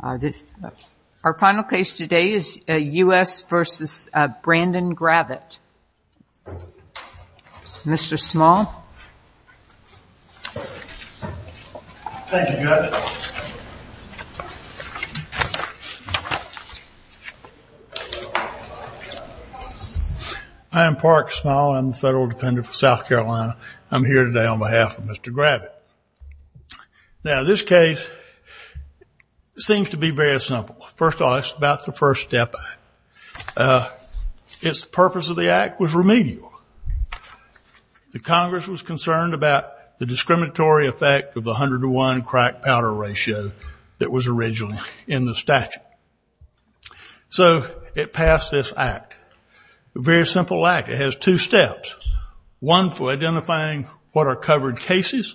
Our final case today is a U.S. versus a Brandon Gravatt. Mr. Small. I am Park Small. I'm the federal defendant for South Carolina. I'm here today on behalf of Mr. Gravatt. Now, this case seems to be very simple. First of all, it's about the First Step Act. Its purpose of the act was remedial. The Congress was concerned about the discriminatory effect of the 101 crack powder ratio that was originally in the statute. So it passed this act. A very simple act. It has two steps. One for identifying what are covered cases.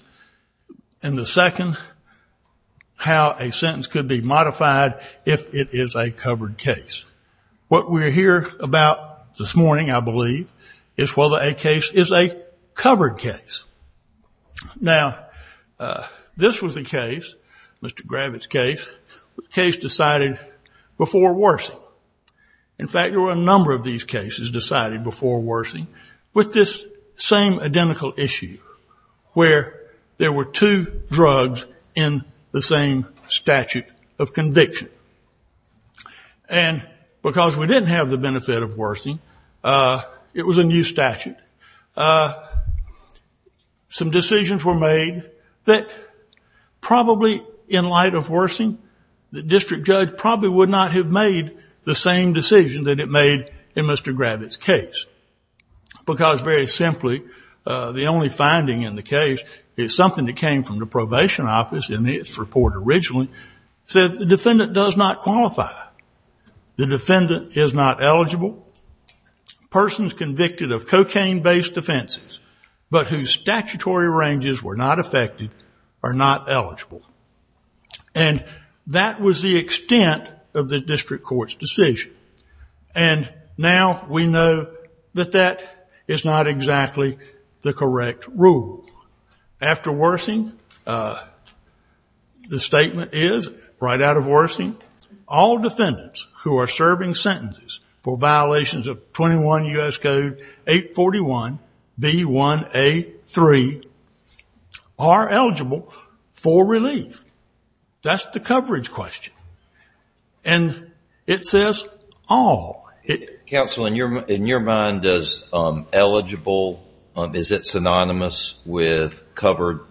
And the second, how a sentence could be modified if it is a covered case. What we're here about this morning, I believe, is whether a case is a covered case. Now, this was a case, Mr. Gravatt's case, a case decided before Wersing. In fact, there were a number of these cases decided before Wersing with this same identical issue, where there were two drugs in the same statute of conviction. And because we didn't have the benefit of Wersing, it was a new statute. Some decisions were made that probably in light of Wersing, the district judge probably would not have made the same decision that it made in Mr. The only finding in the case is something that came from the probation office in its report originally, said the defendant does not qualify. The defendant is not eligible. Persons convicted of cocaine-based offenses, but whose statutory ranges were not affected, are not eligible. And that was the extent of the district court's decision. And now we know that that is not exactly the correct rule. After Wersing, the statement is, right out of Wersing, all defendants who are serving sentences for violations of 21 U.S. Code 841 B1A3 are eligible for relief. That's the coverage question. And it says, all. Counsel, in your mind, does eligible, is it synonymous with covered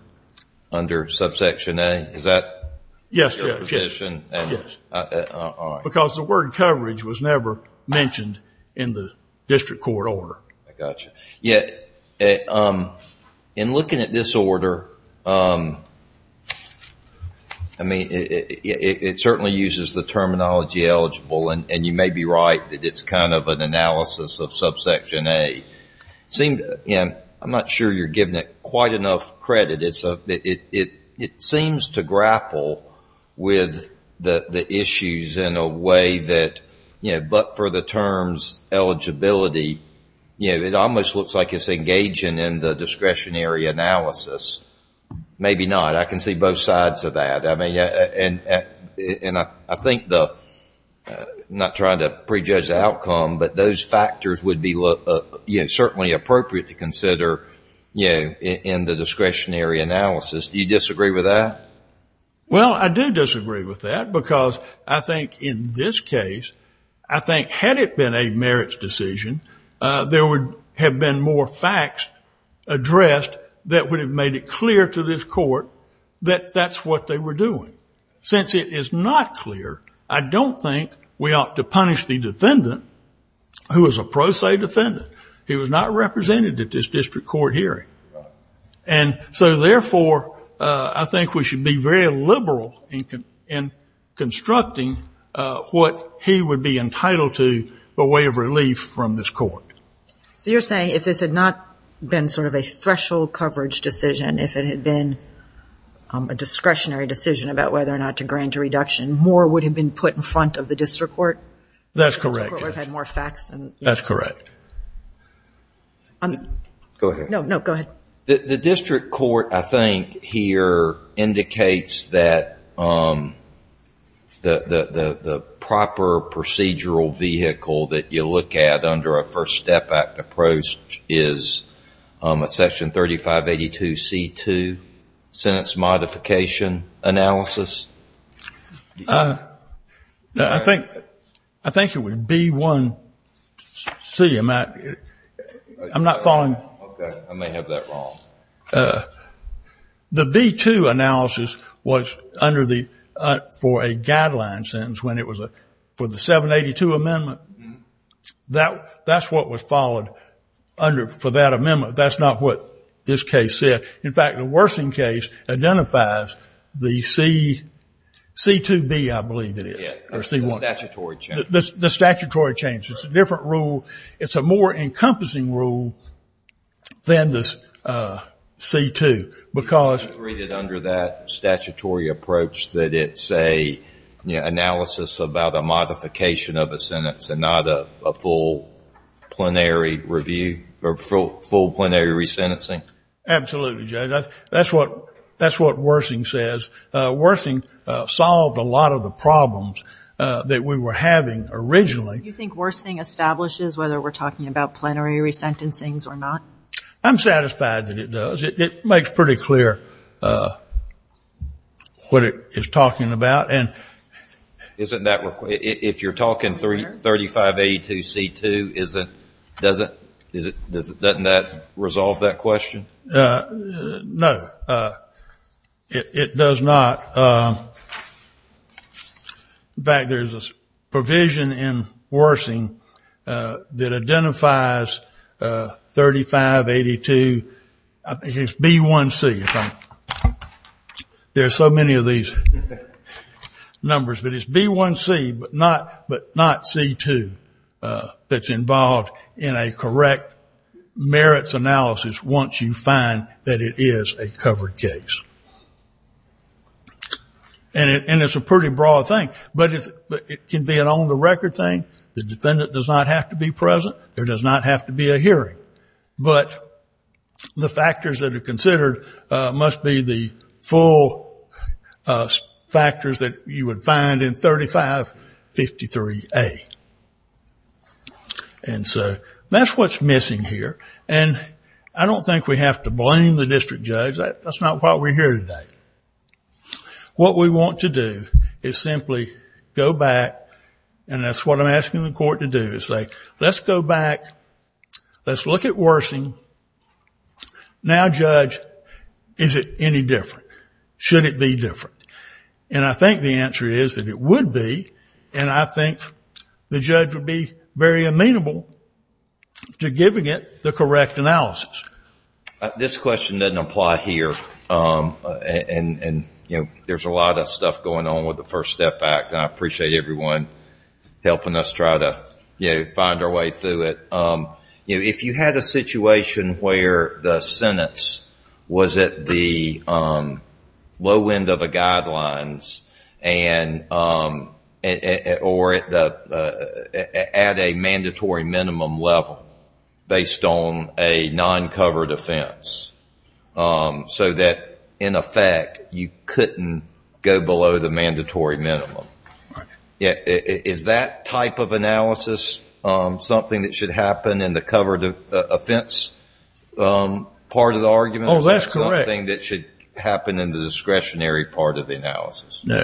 under subsection A, is that your position? Yes, because the word coverage was never mentioned in the district court order. I got you. Yeah, in looking at this order, I mean, it certainly uses the terminology eligible, and you may be right that it's kind of an analysis of subsection A. I'm not sure you're giving it quite enough credit. It seems to grapple with the issues in a way that, you know, but for the courts, like it's engaging in the discretionary analysis, maybe not. I can see both sides of that. I mean, and I think the, I'm not trying to prejudge the outcome, but those factors would be certainly appropriate to consider in the discretionary analysis. Do you disagree with that? Well, I do disagree with that because I think in this case, I think had it been a more faxed addressed, that would have made it clear to this court that that's what they were doing, since it is not clear. I don't think we ought to punish the defendant who was a pro se defendant. He was not represented at this district court hearing. And so therefore, I think we should be very liberal in constructing what he would be entitled to by way of relief from this court. So you're saying if this had not been sort of a threshold coverage decision, if it had been a discretionary decision about whether or not to grant a reduction, more would have been put in front of the district court? That's correct. The district court would have had more faxed. That's correct. Go ahead. No, no, go ahead. The district court, I think here indicates that the proper procedural vehicle that you look at under a First Step Act approach is a section 3582C2, sentence modification analysis. I think it would be B1C, I'm not following. Okay, I may have that wrong. The B2 analysis was under the, for a guideline sentence when it was a, for the 782 amendment, that's what was followed under, for that amendment. That's not what this case said. In fact, the worsening case identifies the C2B, I believe it is, or C1. The statutory change. The statutory change. It's a different rule. It's a more encompassing rule than the C2 because. I agree that under that statutory approach that it's a analysis about a modification of a sentence and not a full plenary review or full plenary resentencing. Absolutely, Judge. That's what, that's what worsening says. Worsening solved a lot of the problems that we were having originally. Do you think worsening establishes whether we're talking about plenary resentencings or not? I'm satisfied that it does. It makes pretty clear what it is talking about. And. Isn't that, if you're talking 3582 C2, is it, does it, is it, does it, doesn't that resolve that question? No, it does not. In fact, there's a provision in worsening that identifies 3582. I think it's B1C if I'm, there's so many of these numbers, but it's B1C, but not, but not C2 that's involved in a correct merits analysis. Once you find that it is a covered case. And it, and it's a pretty broad thing, but it can be an on the record thing. The defendant does not have to be present. There does not have to be a hearing. But the factors that are considered must be the full factors that you would find in 3553A. And so that's what's missing here. And I don't think we have to blame the district judge. That's not why we're here today. What we want to do is simply go back. And that's what I'm asking the court to do is say, let's go back. Let's look at worsening. Now, judge, is it any different? Should it be different? And I think the answer is that it would be. And I think the judge would be very amenable to giving it the correct analysis. This question doesn't apply here. And, and, and, you know, there's a lot of stuff going on with the First Step Act. And I appreciate everyone helping us try to, you know, find our way through it. You know, if you had a situation where the sentence was at the low end of the guidelines and, or at the, at a mandatory minimum level based on a non-covered offense, so that in effect, you couldn't go below the mandatory minimum. Yeah. Is that type of analysis something that should happen in the covered offense part of the argument? Oh, that's correct. Something that should happen in the discretionary part of the analysis. No,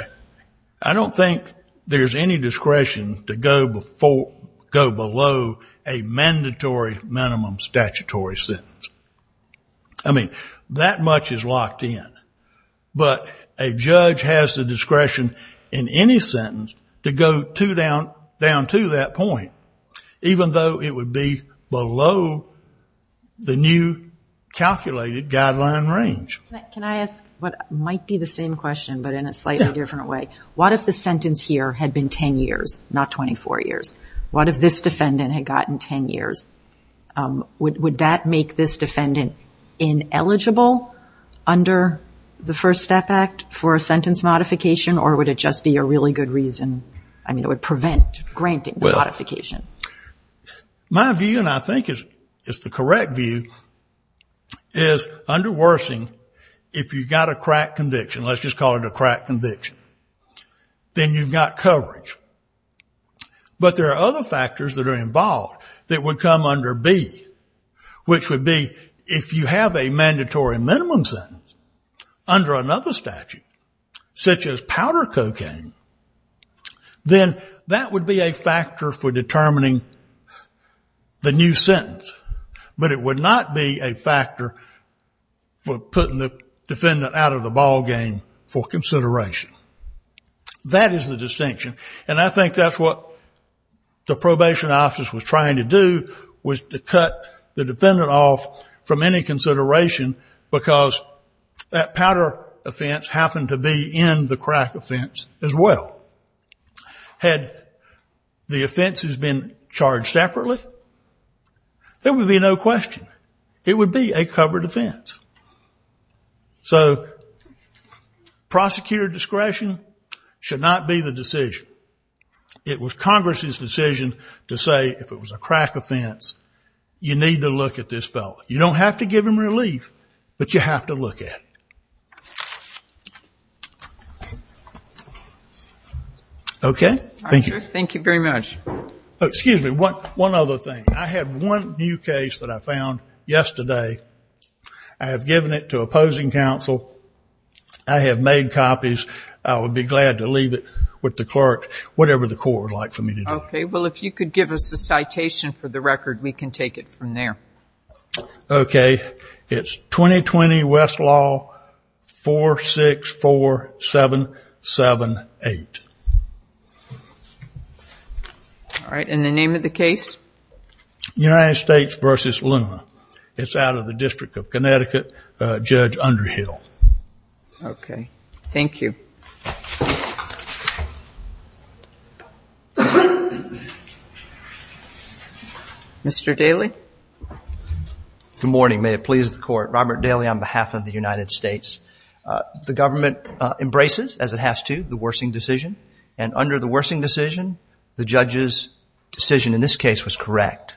I don't think there's any discretion to go before, go below a mandatory minimum statutory sentence. I mean, that much is locked in, but a judge has the discretion in any sentence to go too down, down to that point, even though it would be below the new calculated guideline range. Can I ask what might be the same question, but in a slightly different way? What if the sentence here had been 10 years, not 24 years? What if this defendant had gotten 10 years? Would that make this defendant ineligible under the First Step Act for a sentence modification, or would it just be a really good reason? I mean, it would prevent granting the modification. My view, and I think it's the correct view, is under worsening, if you've got a crack conviction, let's just call it a crack conviction, then you've got coverage, but there are other factors that are involved that would come under B, which would be, if you have a mandatory minimum sentence under another statute, such as powder cocaine, then that would be a factor for determining the new sentence, but it would not be a factor for putting the defendant out of the ballgame for consideration. That is the distinction, and I think that's what the probation office was trying to do, was to cut the defendant off from any consideration because that defense happened to be in the crack offense as well. Had the offenses been charged separately, there would be no question. It would be a covered offense. So prosecutor discretion should not be the decision. It was Congress's decision to say, if it was a crack offense, you need to look at this fellow. You don't have to give him relief, but you have to look at it. Okay. Thank you very much. Oh, excuse me. One other thing. I have one new case that I found yesterday. I have given it to opposing counsel. I have made copies. I would be glad to leave it with the clerk, whatever the court would like for me to do. Okay. Well, if you could give us a citation for the record, we can take it from there. Okay. It's 2020 Westlaw 464778. All right. And the name of the case? United States versus Luma. It's out of the district of Connecticut, Judge Underhill. Okay. Thank you. Mr. Daly. Good morning. May it please the court. Robert Daly on behalf of the United States. The government embraces, as it has to, the Wersing decision. And under the Wersing decision, the judge's decision in this case was correct.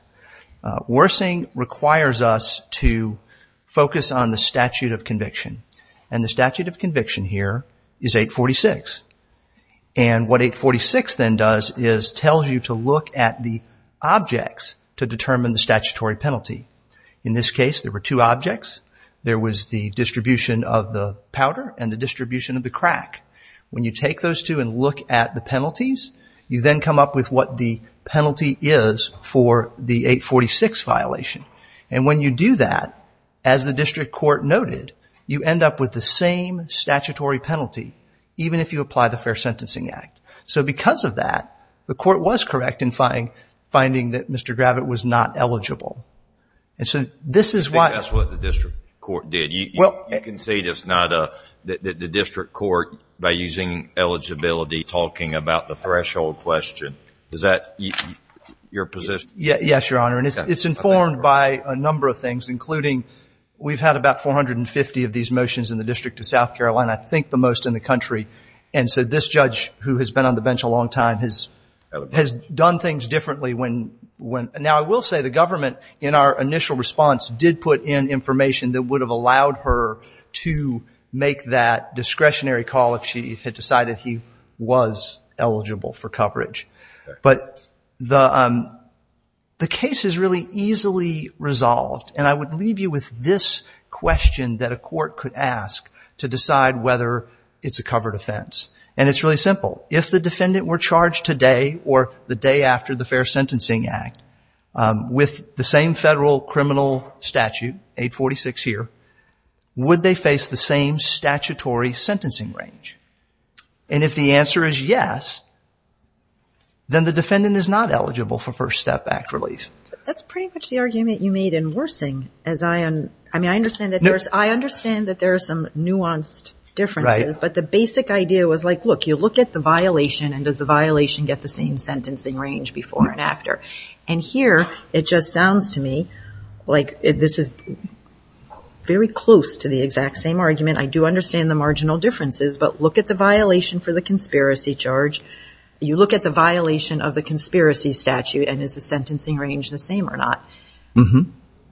Wersing requires us to focus on the statute of conviction. And the statute of conviction here is 846. And what 846 then does is tells you to look at the objects to determine the statute of conviction. And then you apply the statutory penalty. In this case, there were two objects. There was the distribution of the powder and the distribution of the crack. When you take those two and look at the penalties, you then come up with what the penalty is for the 846 violation. And when you do that, as the district court noted, you end up with the same statutory penalty, even if you apply the Fair Sentencing Act. So because of that, the court was correct in finding that Mr. Gravitt was not eligible. And so this is why. I think that's what the district court did. You can say it's not a, that the district court, by using eligibility, talking about the threshold question. Is that your position? Yes, Your Honor. And it's informed by a number of things, including we've had about 450 of these motions in the District of South Carolina. I think the most in the country. And so this judge, who has been on the bench a long time, has done things differently. Now, I will say the government, in our initial response, did put in information that would have allowed her to make that discretionary call if she had decided he was eligible for coverage. But the case is really easily resolved. And I would leave you with this question that a court could ask to decide whether it's a covered offense. And it's really simple. If the defendant were charged today or the day after the Fair Sentencing Act, with the same federal criminal statute, 846 here, would they face the same statutory sentencing range? And if the answer is yes, then the defendant is not eligible for First Step Act release. That's pretty much the argument you made in Worsing. I mean, I understand that there's some nuanced differences, but the basic idea was like, look, you look at the violation and does the violation get the same sentencing range before and after? And here, it just sounds to me like this is very close to the exact same argument. I do understand the marginal differences, but look at the violation for the conspiracy charge. You look at the violation of the conspiracy statute and is the sentencing range the same or not?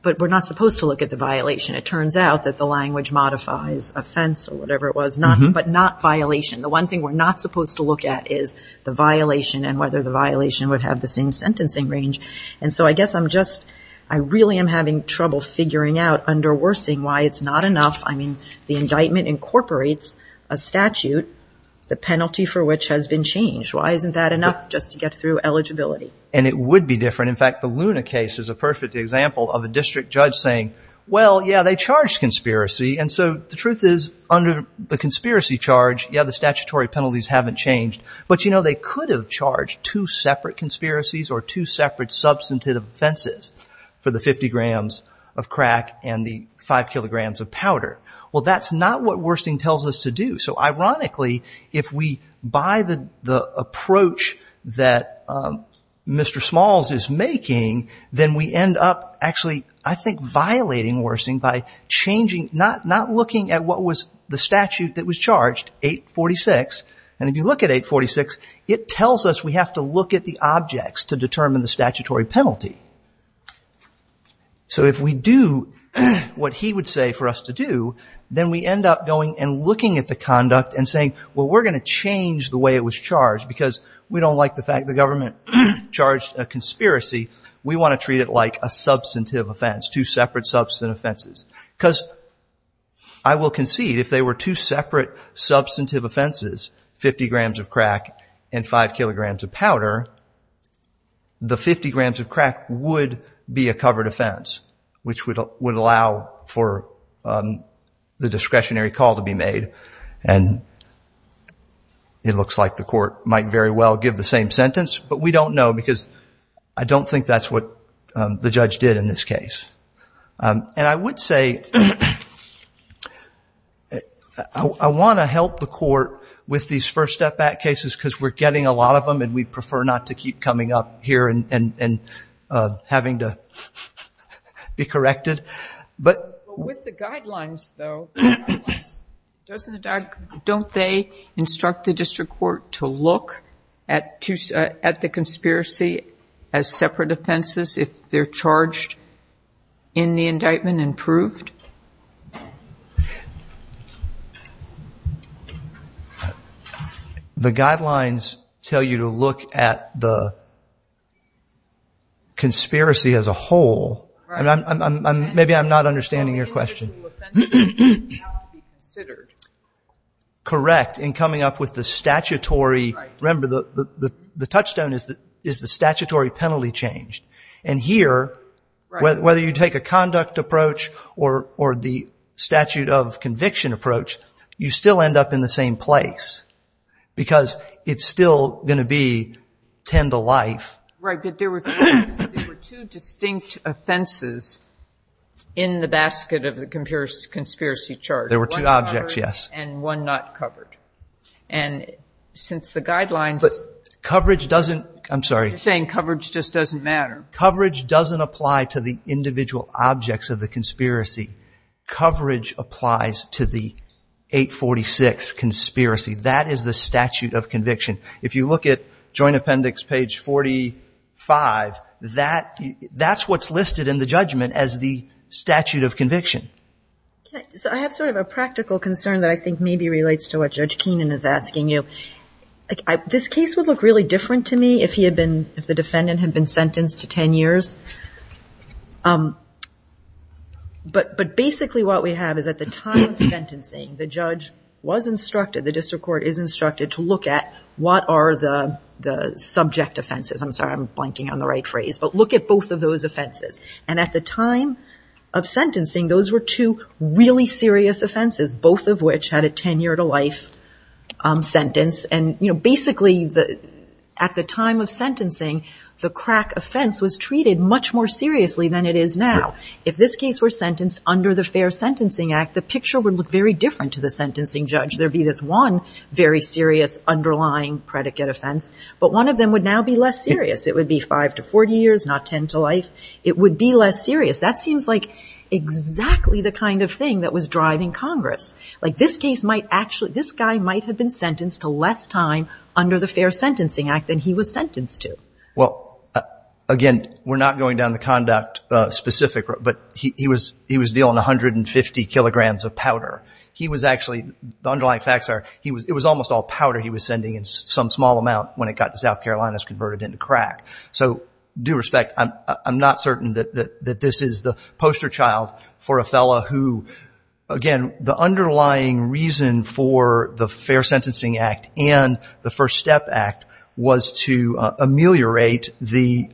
But we're not supposed to look at the violation. It turns out that the language modifies offense or whatever it was, but not violation. The one thing we're not supposed to look at is the violation and whether the violation would have the same sentencing range. And so I guess I'm just, I really am having trouble figuring out under Worsing why it's not enough. I mean, the indictment incorporates a statute, the penalty for which has been changed. Why isn't that enough just to get through eligibility? And it would be different. In fact, the Luna case is a perfect example of a district judge saying, well, yeah, they charged conspiracy. And so the truth is, under the conspiracy charge, yeah, the statutory penalties haven't changed. But, you know, they could have charged two separate conspiracies or two separate substantive offenses for the 50 grams of crack and the five kilograms of powder. Well, that's not what Worsing tells us to do. So ironically, if we buy the approach that Mr. Smalls is making, then we end up actually, I think, violating Worsing by changing, not looking at what was the statute that was charged, 846. And if you look at 846, it tells us we have to look at the objects to determine the statutory penalty. So if we do what he would say for us to do, then we end up going and looking at the conduct and saying, well, we're going to change the way it was charged because we don't like the fact the government charged a conspiracy. We want to treat it like a substantive offense, two separate substantive offenses, because. I will concede, if they were two separate substantive offenses, 50 grams of crack and five kilograms of powder, the 50 grams of crack would be a covered offense, which would would allow for the discretionary call to be made. And it looks like the court might very well give the same sentence. But we don't know because I don't think that's what the judge did in this case. And I would say, I want to help the court with these first step back cases because we're getting a lot of them and we prefer not to keep coming up here and having to be corrected. But with the guidelines, though, don't they instruct the district court to look at the conspiracy as separate offenses if they're charged in the indictment and proved? The guidelines tell you to look at the conspiracy as a whole. And maybe I'm not understanding your question. Correct. In coming up with the statutory, remember, the touchstone is the statutory penalty changed. And here, whether you take a conduct approach or the statute of conviction approach, you still end up in the same place because it's still going to be tend to life. Right. But there were two distinct offenses in the basket of the conspiracy charge. There were two objects. Yes. And one not covered. And since the guidelines, coverage doesn't, I'm sorry, saying coverage just doesn't matter. Coverage doesn't apply to the individual objects of the conspiracy. Coverage applies to the 846 conspiracy. That is the statute of conviction. If you look at Joint Appendix page 45, that's what's listed in the judgment as the statute of conviction. So I have sort of a practical concern that I think maybe relates to what Judge Keenan is asking you. This case would look really different to me if he had been, if the defendant had been sentenced to 10 years. But basically what we have is at the time of sentencing, the judge was instructed, the district court is instructed to look at what are the subject offenses. I'm sorry, I'm blanking on the right phrase. But look at both of those offenses. And at the time of sentencing, those were two really serious offenses, both of which had a 10 year to life sentence. And basically at the time of sentencing, the crack offense was treated much more seriously than it is now. If this case were sentenced under the Fair Sentencing Act, the picture would look very different to the sentencing judge. There'd be this one very serious underlying predicate offense, but one of them would now be less serious. It would be 5 to 40 years, not 10 to life. It would be less serious. That seems like exactly the kind of thing that was driving Congress. Like this case might actually, this guy might have been sentenced to less time under the Fair Sentencing Act than he was sentenced to. Well, again, we're not going down the conduct specific, but he was, he was dealing 150 kilograms of powder. He was actually, the underlying facts are, he was, it was almost all powder he was sending in some small amount when it got to South Carolina, it was converted into crack. So due respect, I'm not certain that this is the poster child for a fellow who, again, the underlying reason for the Fair Sentencing Act and the First Step Act was to ameliorate the,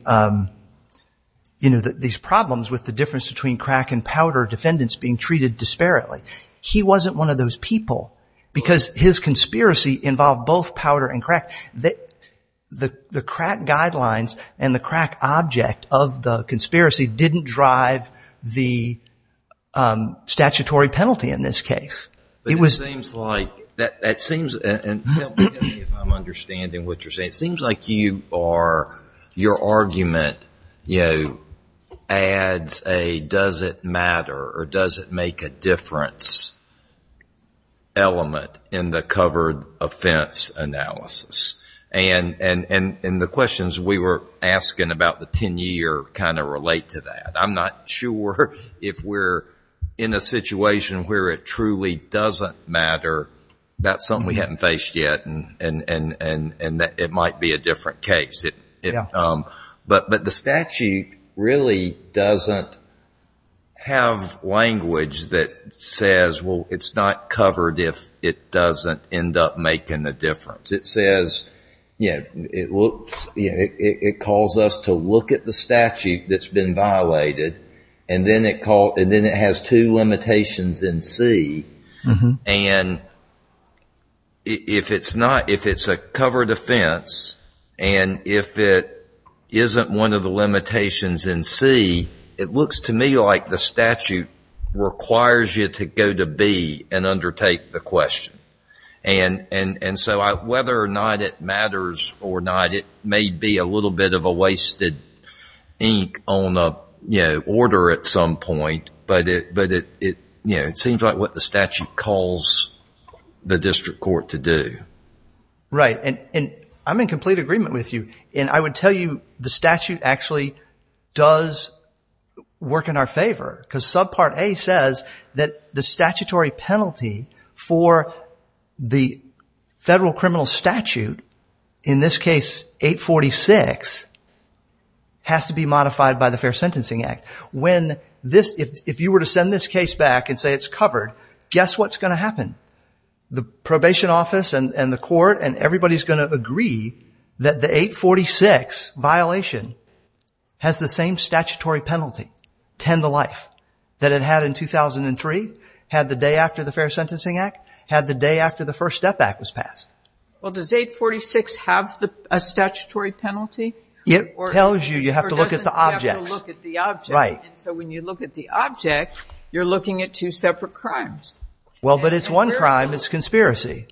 you know, these problems with the difference between crack and powder defendants being treated disparately. He wasn't one of those people because his conspiracy involved both powder and crack that the, the crack guidelines and the crack object of the conspiracy didn't drive the statutory penalty in this case. It was. It seems like that, that seems, and help me if I'm understanding what you're saying. It seems like you are, your argument, you know, adds a, does it matter or does it make a difference element in the covered offense analysis? And, and, and, and the questions we were asking about the 10 year kind of relate to that. I'm not sure if we're in a situation where it truly doesn't matter, that's something we haven't faced yet and, and, and, and that it might be a different case. It, it, but, but the statute really doesn't have language that says, well, it's not covered if it doesn't end up making the difference. It says, you know, it looks, you know, it, it calls us to look at the statute that's been violated and then it called, and then it has two limitations in C. And if it's not, if it's a covered offense and if it isn't one of the limitations in C, it looks to me like the statute requires you to go to B and undertake the question. And, and, and so I, whether or not it matters or not, it may be a little bit of a wasted ink on a, you know, order at some point, but it, but it, it, you know, it seems like what the statute calls the district court to do. Right. And, and I'm in complete agreement with you. And I would tell you the statute actually does work in our favor because subpart A says that the statutory penalty for the federal criminal statute, in this case, 846, has to be modified by the Fair Sentencing Act. When this, if, if you were to send this case back and say it's covered, guess what's going to happen? The probation office and the court and everybody's going to agree that the 846 violation has the same statutory penalty, 10 to life, that it had in 2003, had the day after the Fair Sentencing Act, had the day after the First Step Act was passed. Well, does 846 have a statutory penalty? It tells you, you have to look at the objects. You have to look at the object. Right. And so when you look at the object, you're looking at two separate crimes. Well, but it's one crime, it's a conspiracy.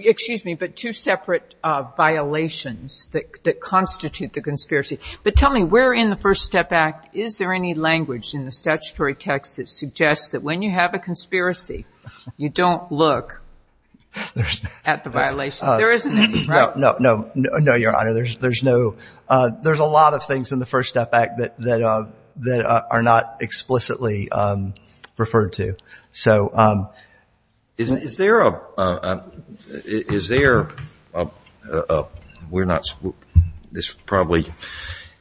Excuse me, but two separate violations that, that constitute the conspiracy. But tell me, where in the First Step Act, is there any language in the statutory text that suggests that when you have a conspiracy, you don't look at the violations? There isn't any, right? No, no, no, no, Your Honor. There's, there's no, there's a lot of things in the First Step Act that, that, that are not explicitly referred to. So, is, is there a, is there a, we're not, this probably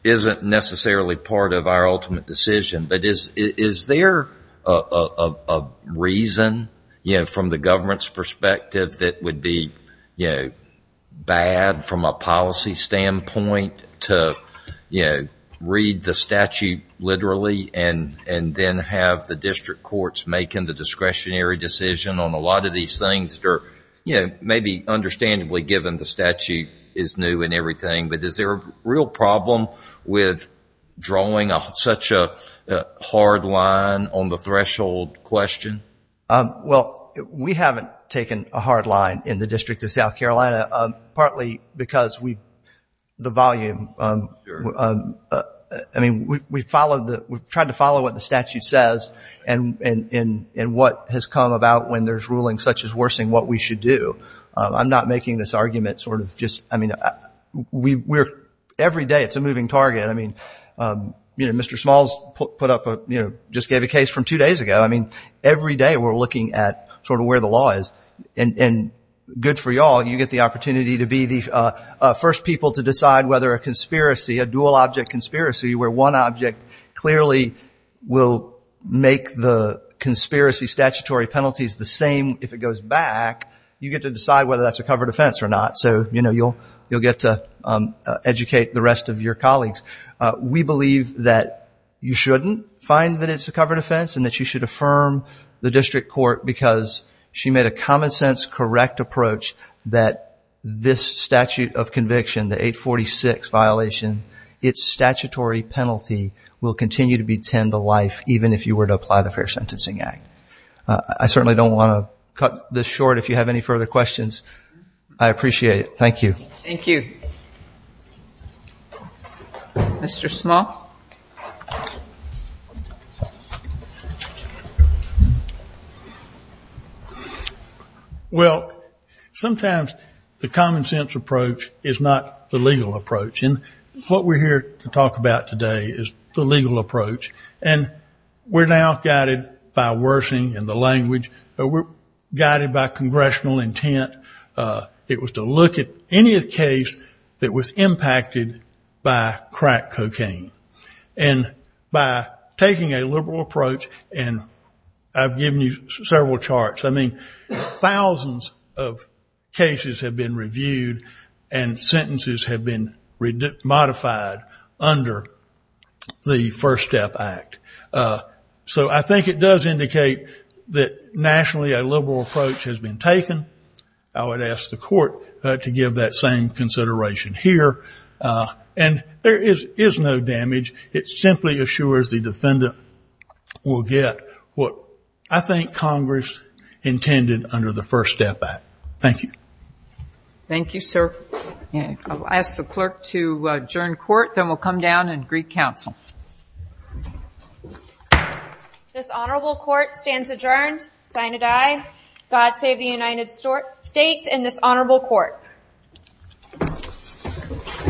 isn't necessarily part of our ultimate decision, but is, is there a, a, a reason, you know, from the government's perspective that would be, you know, bad from a policy standpoint to, you know, read the statute literally and, and then have the district courts make in the discretionary decision on a lot of these things that are, you know, maybe understandably given the statute is new and everything. But is there a real problem with drawing such a hard line on the threshold question? Well, we haven't taken a hard line in the District of South Carolina, partly because we, the volume, I mean, we, we followed the, we've tried to follow what the statute says. And, and, and, and what has come about when there's ruling such as worsening what we should do. I'm not making this argument sort of just, I mean, we, we're, every day it's a moving target. I mean, you know, Mr. Smalls put up a, you know, just gave a case from two days ago. I mean, every day we're looking at sort of where the law is and, and good for y'all. You get the opportunity to be the first people to decide whether a conspiracy, a dual object conspiracy where one object clearly will make the conspiracy statutory penalties the same. If it goes back, you get to decide whether that's a covered offense or not. So, you know, you'll, you'll get to educate the rest of your colleagues. We believe that you shouldn't find that it's a covered offense and that you should affirm the district court because she made a common sense, correct approach. That this statute of conviction, the 846 violation, it's statutory penalty will continue to be tend to life. Even if you were to apply the fair sentencing act, I certainly don't want to cut this short. If you have any further questions, I appreciate it. Thank you. Thank you, Mr. Small. Well, sometimes the common sense approach is not the legal approach. And what we're here to talk about today is the legal approach. And we're now guided by worsening in the language that we're guided by congressional intent. It was to look at any case that was impacted by crack cocaine. And by taking a liberal approach, and I've given you several charts. I mean, thousands of cases have been reviewed and sentences have been modified under the First Step Act. So I think it does indicate that nationally, a liberal approach has been taken. I would ask the court to give that same consideration here. And there is no damage. It simply assures the defendant will get what I think Congress intended under the First Step Act. Thank you. Thank you, sir. I'll ask the clerk to adjourn court, then we'll come down and greet counsel. This honorable court stands adjourned. Signed, aye. God save the United States and this honorable court. Thank you.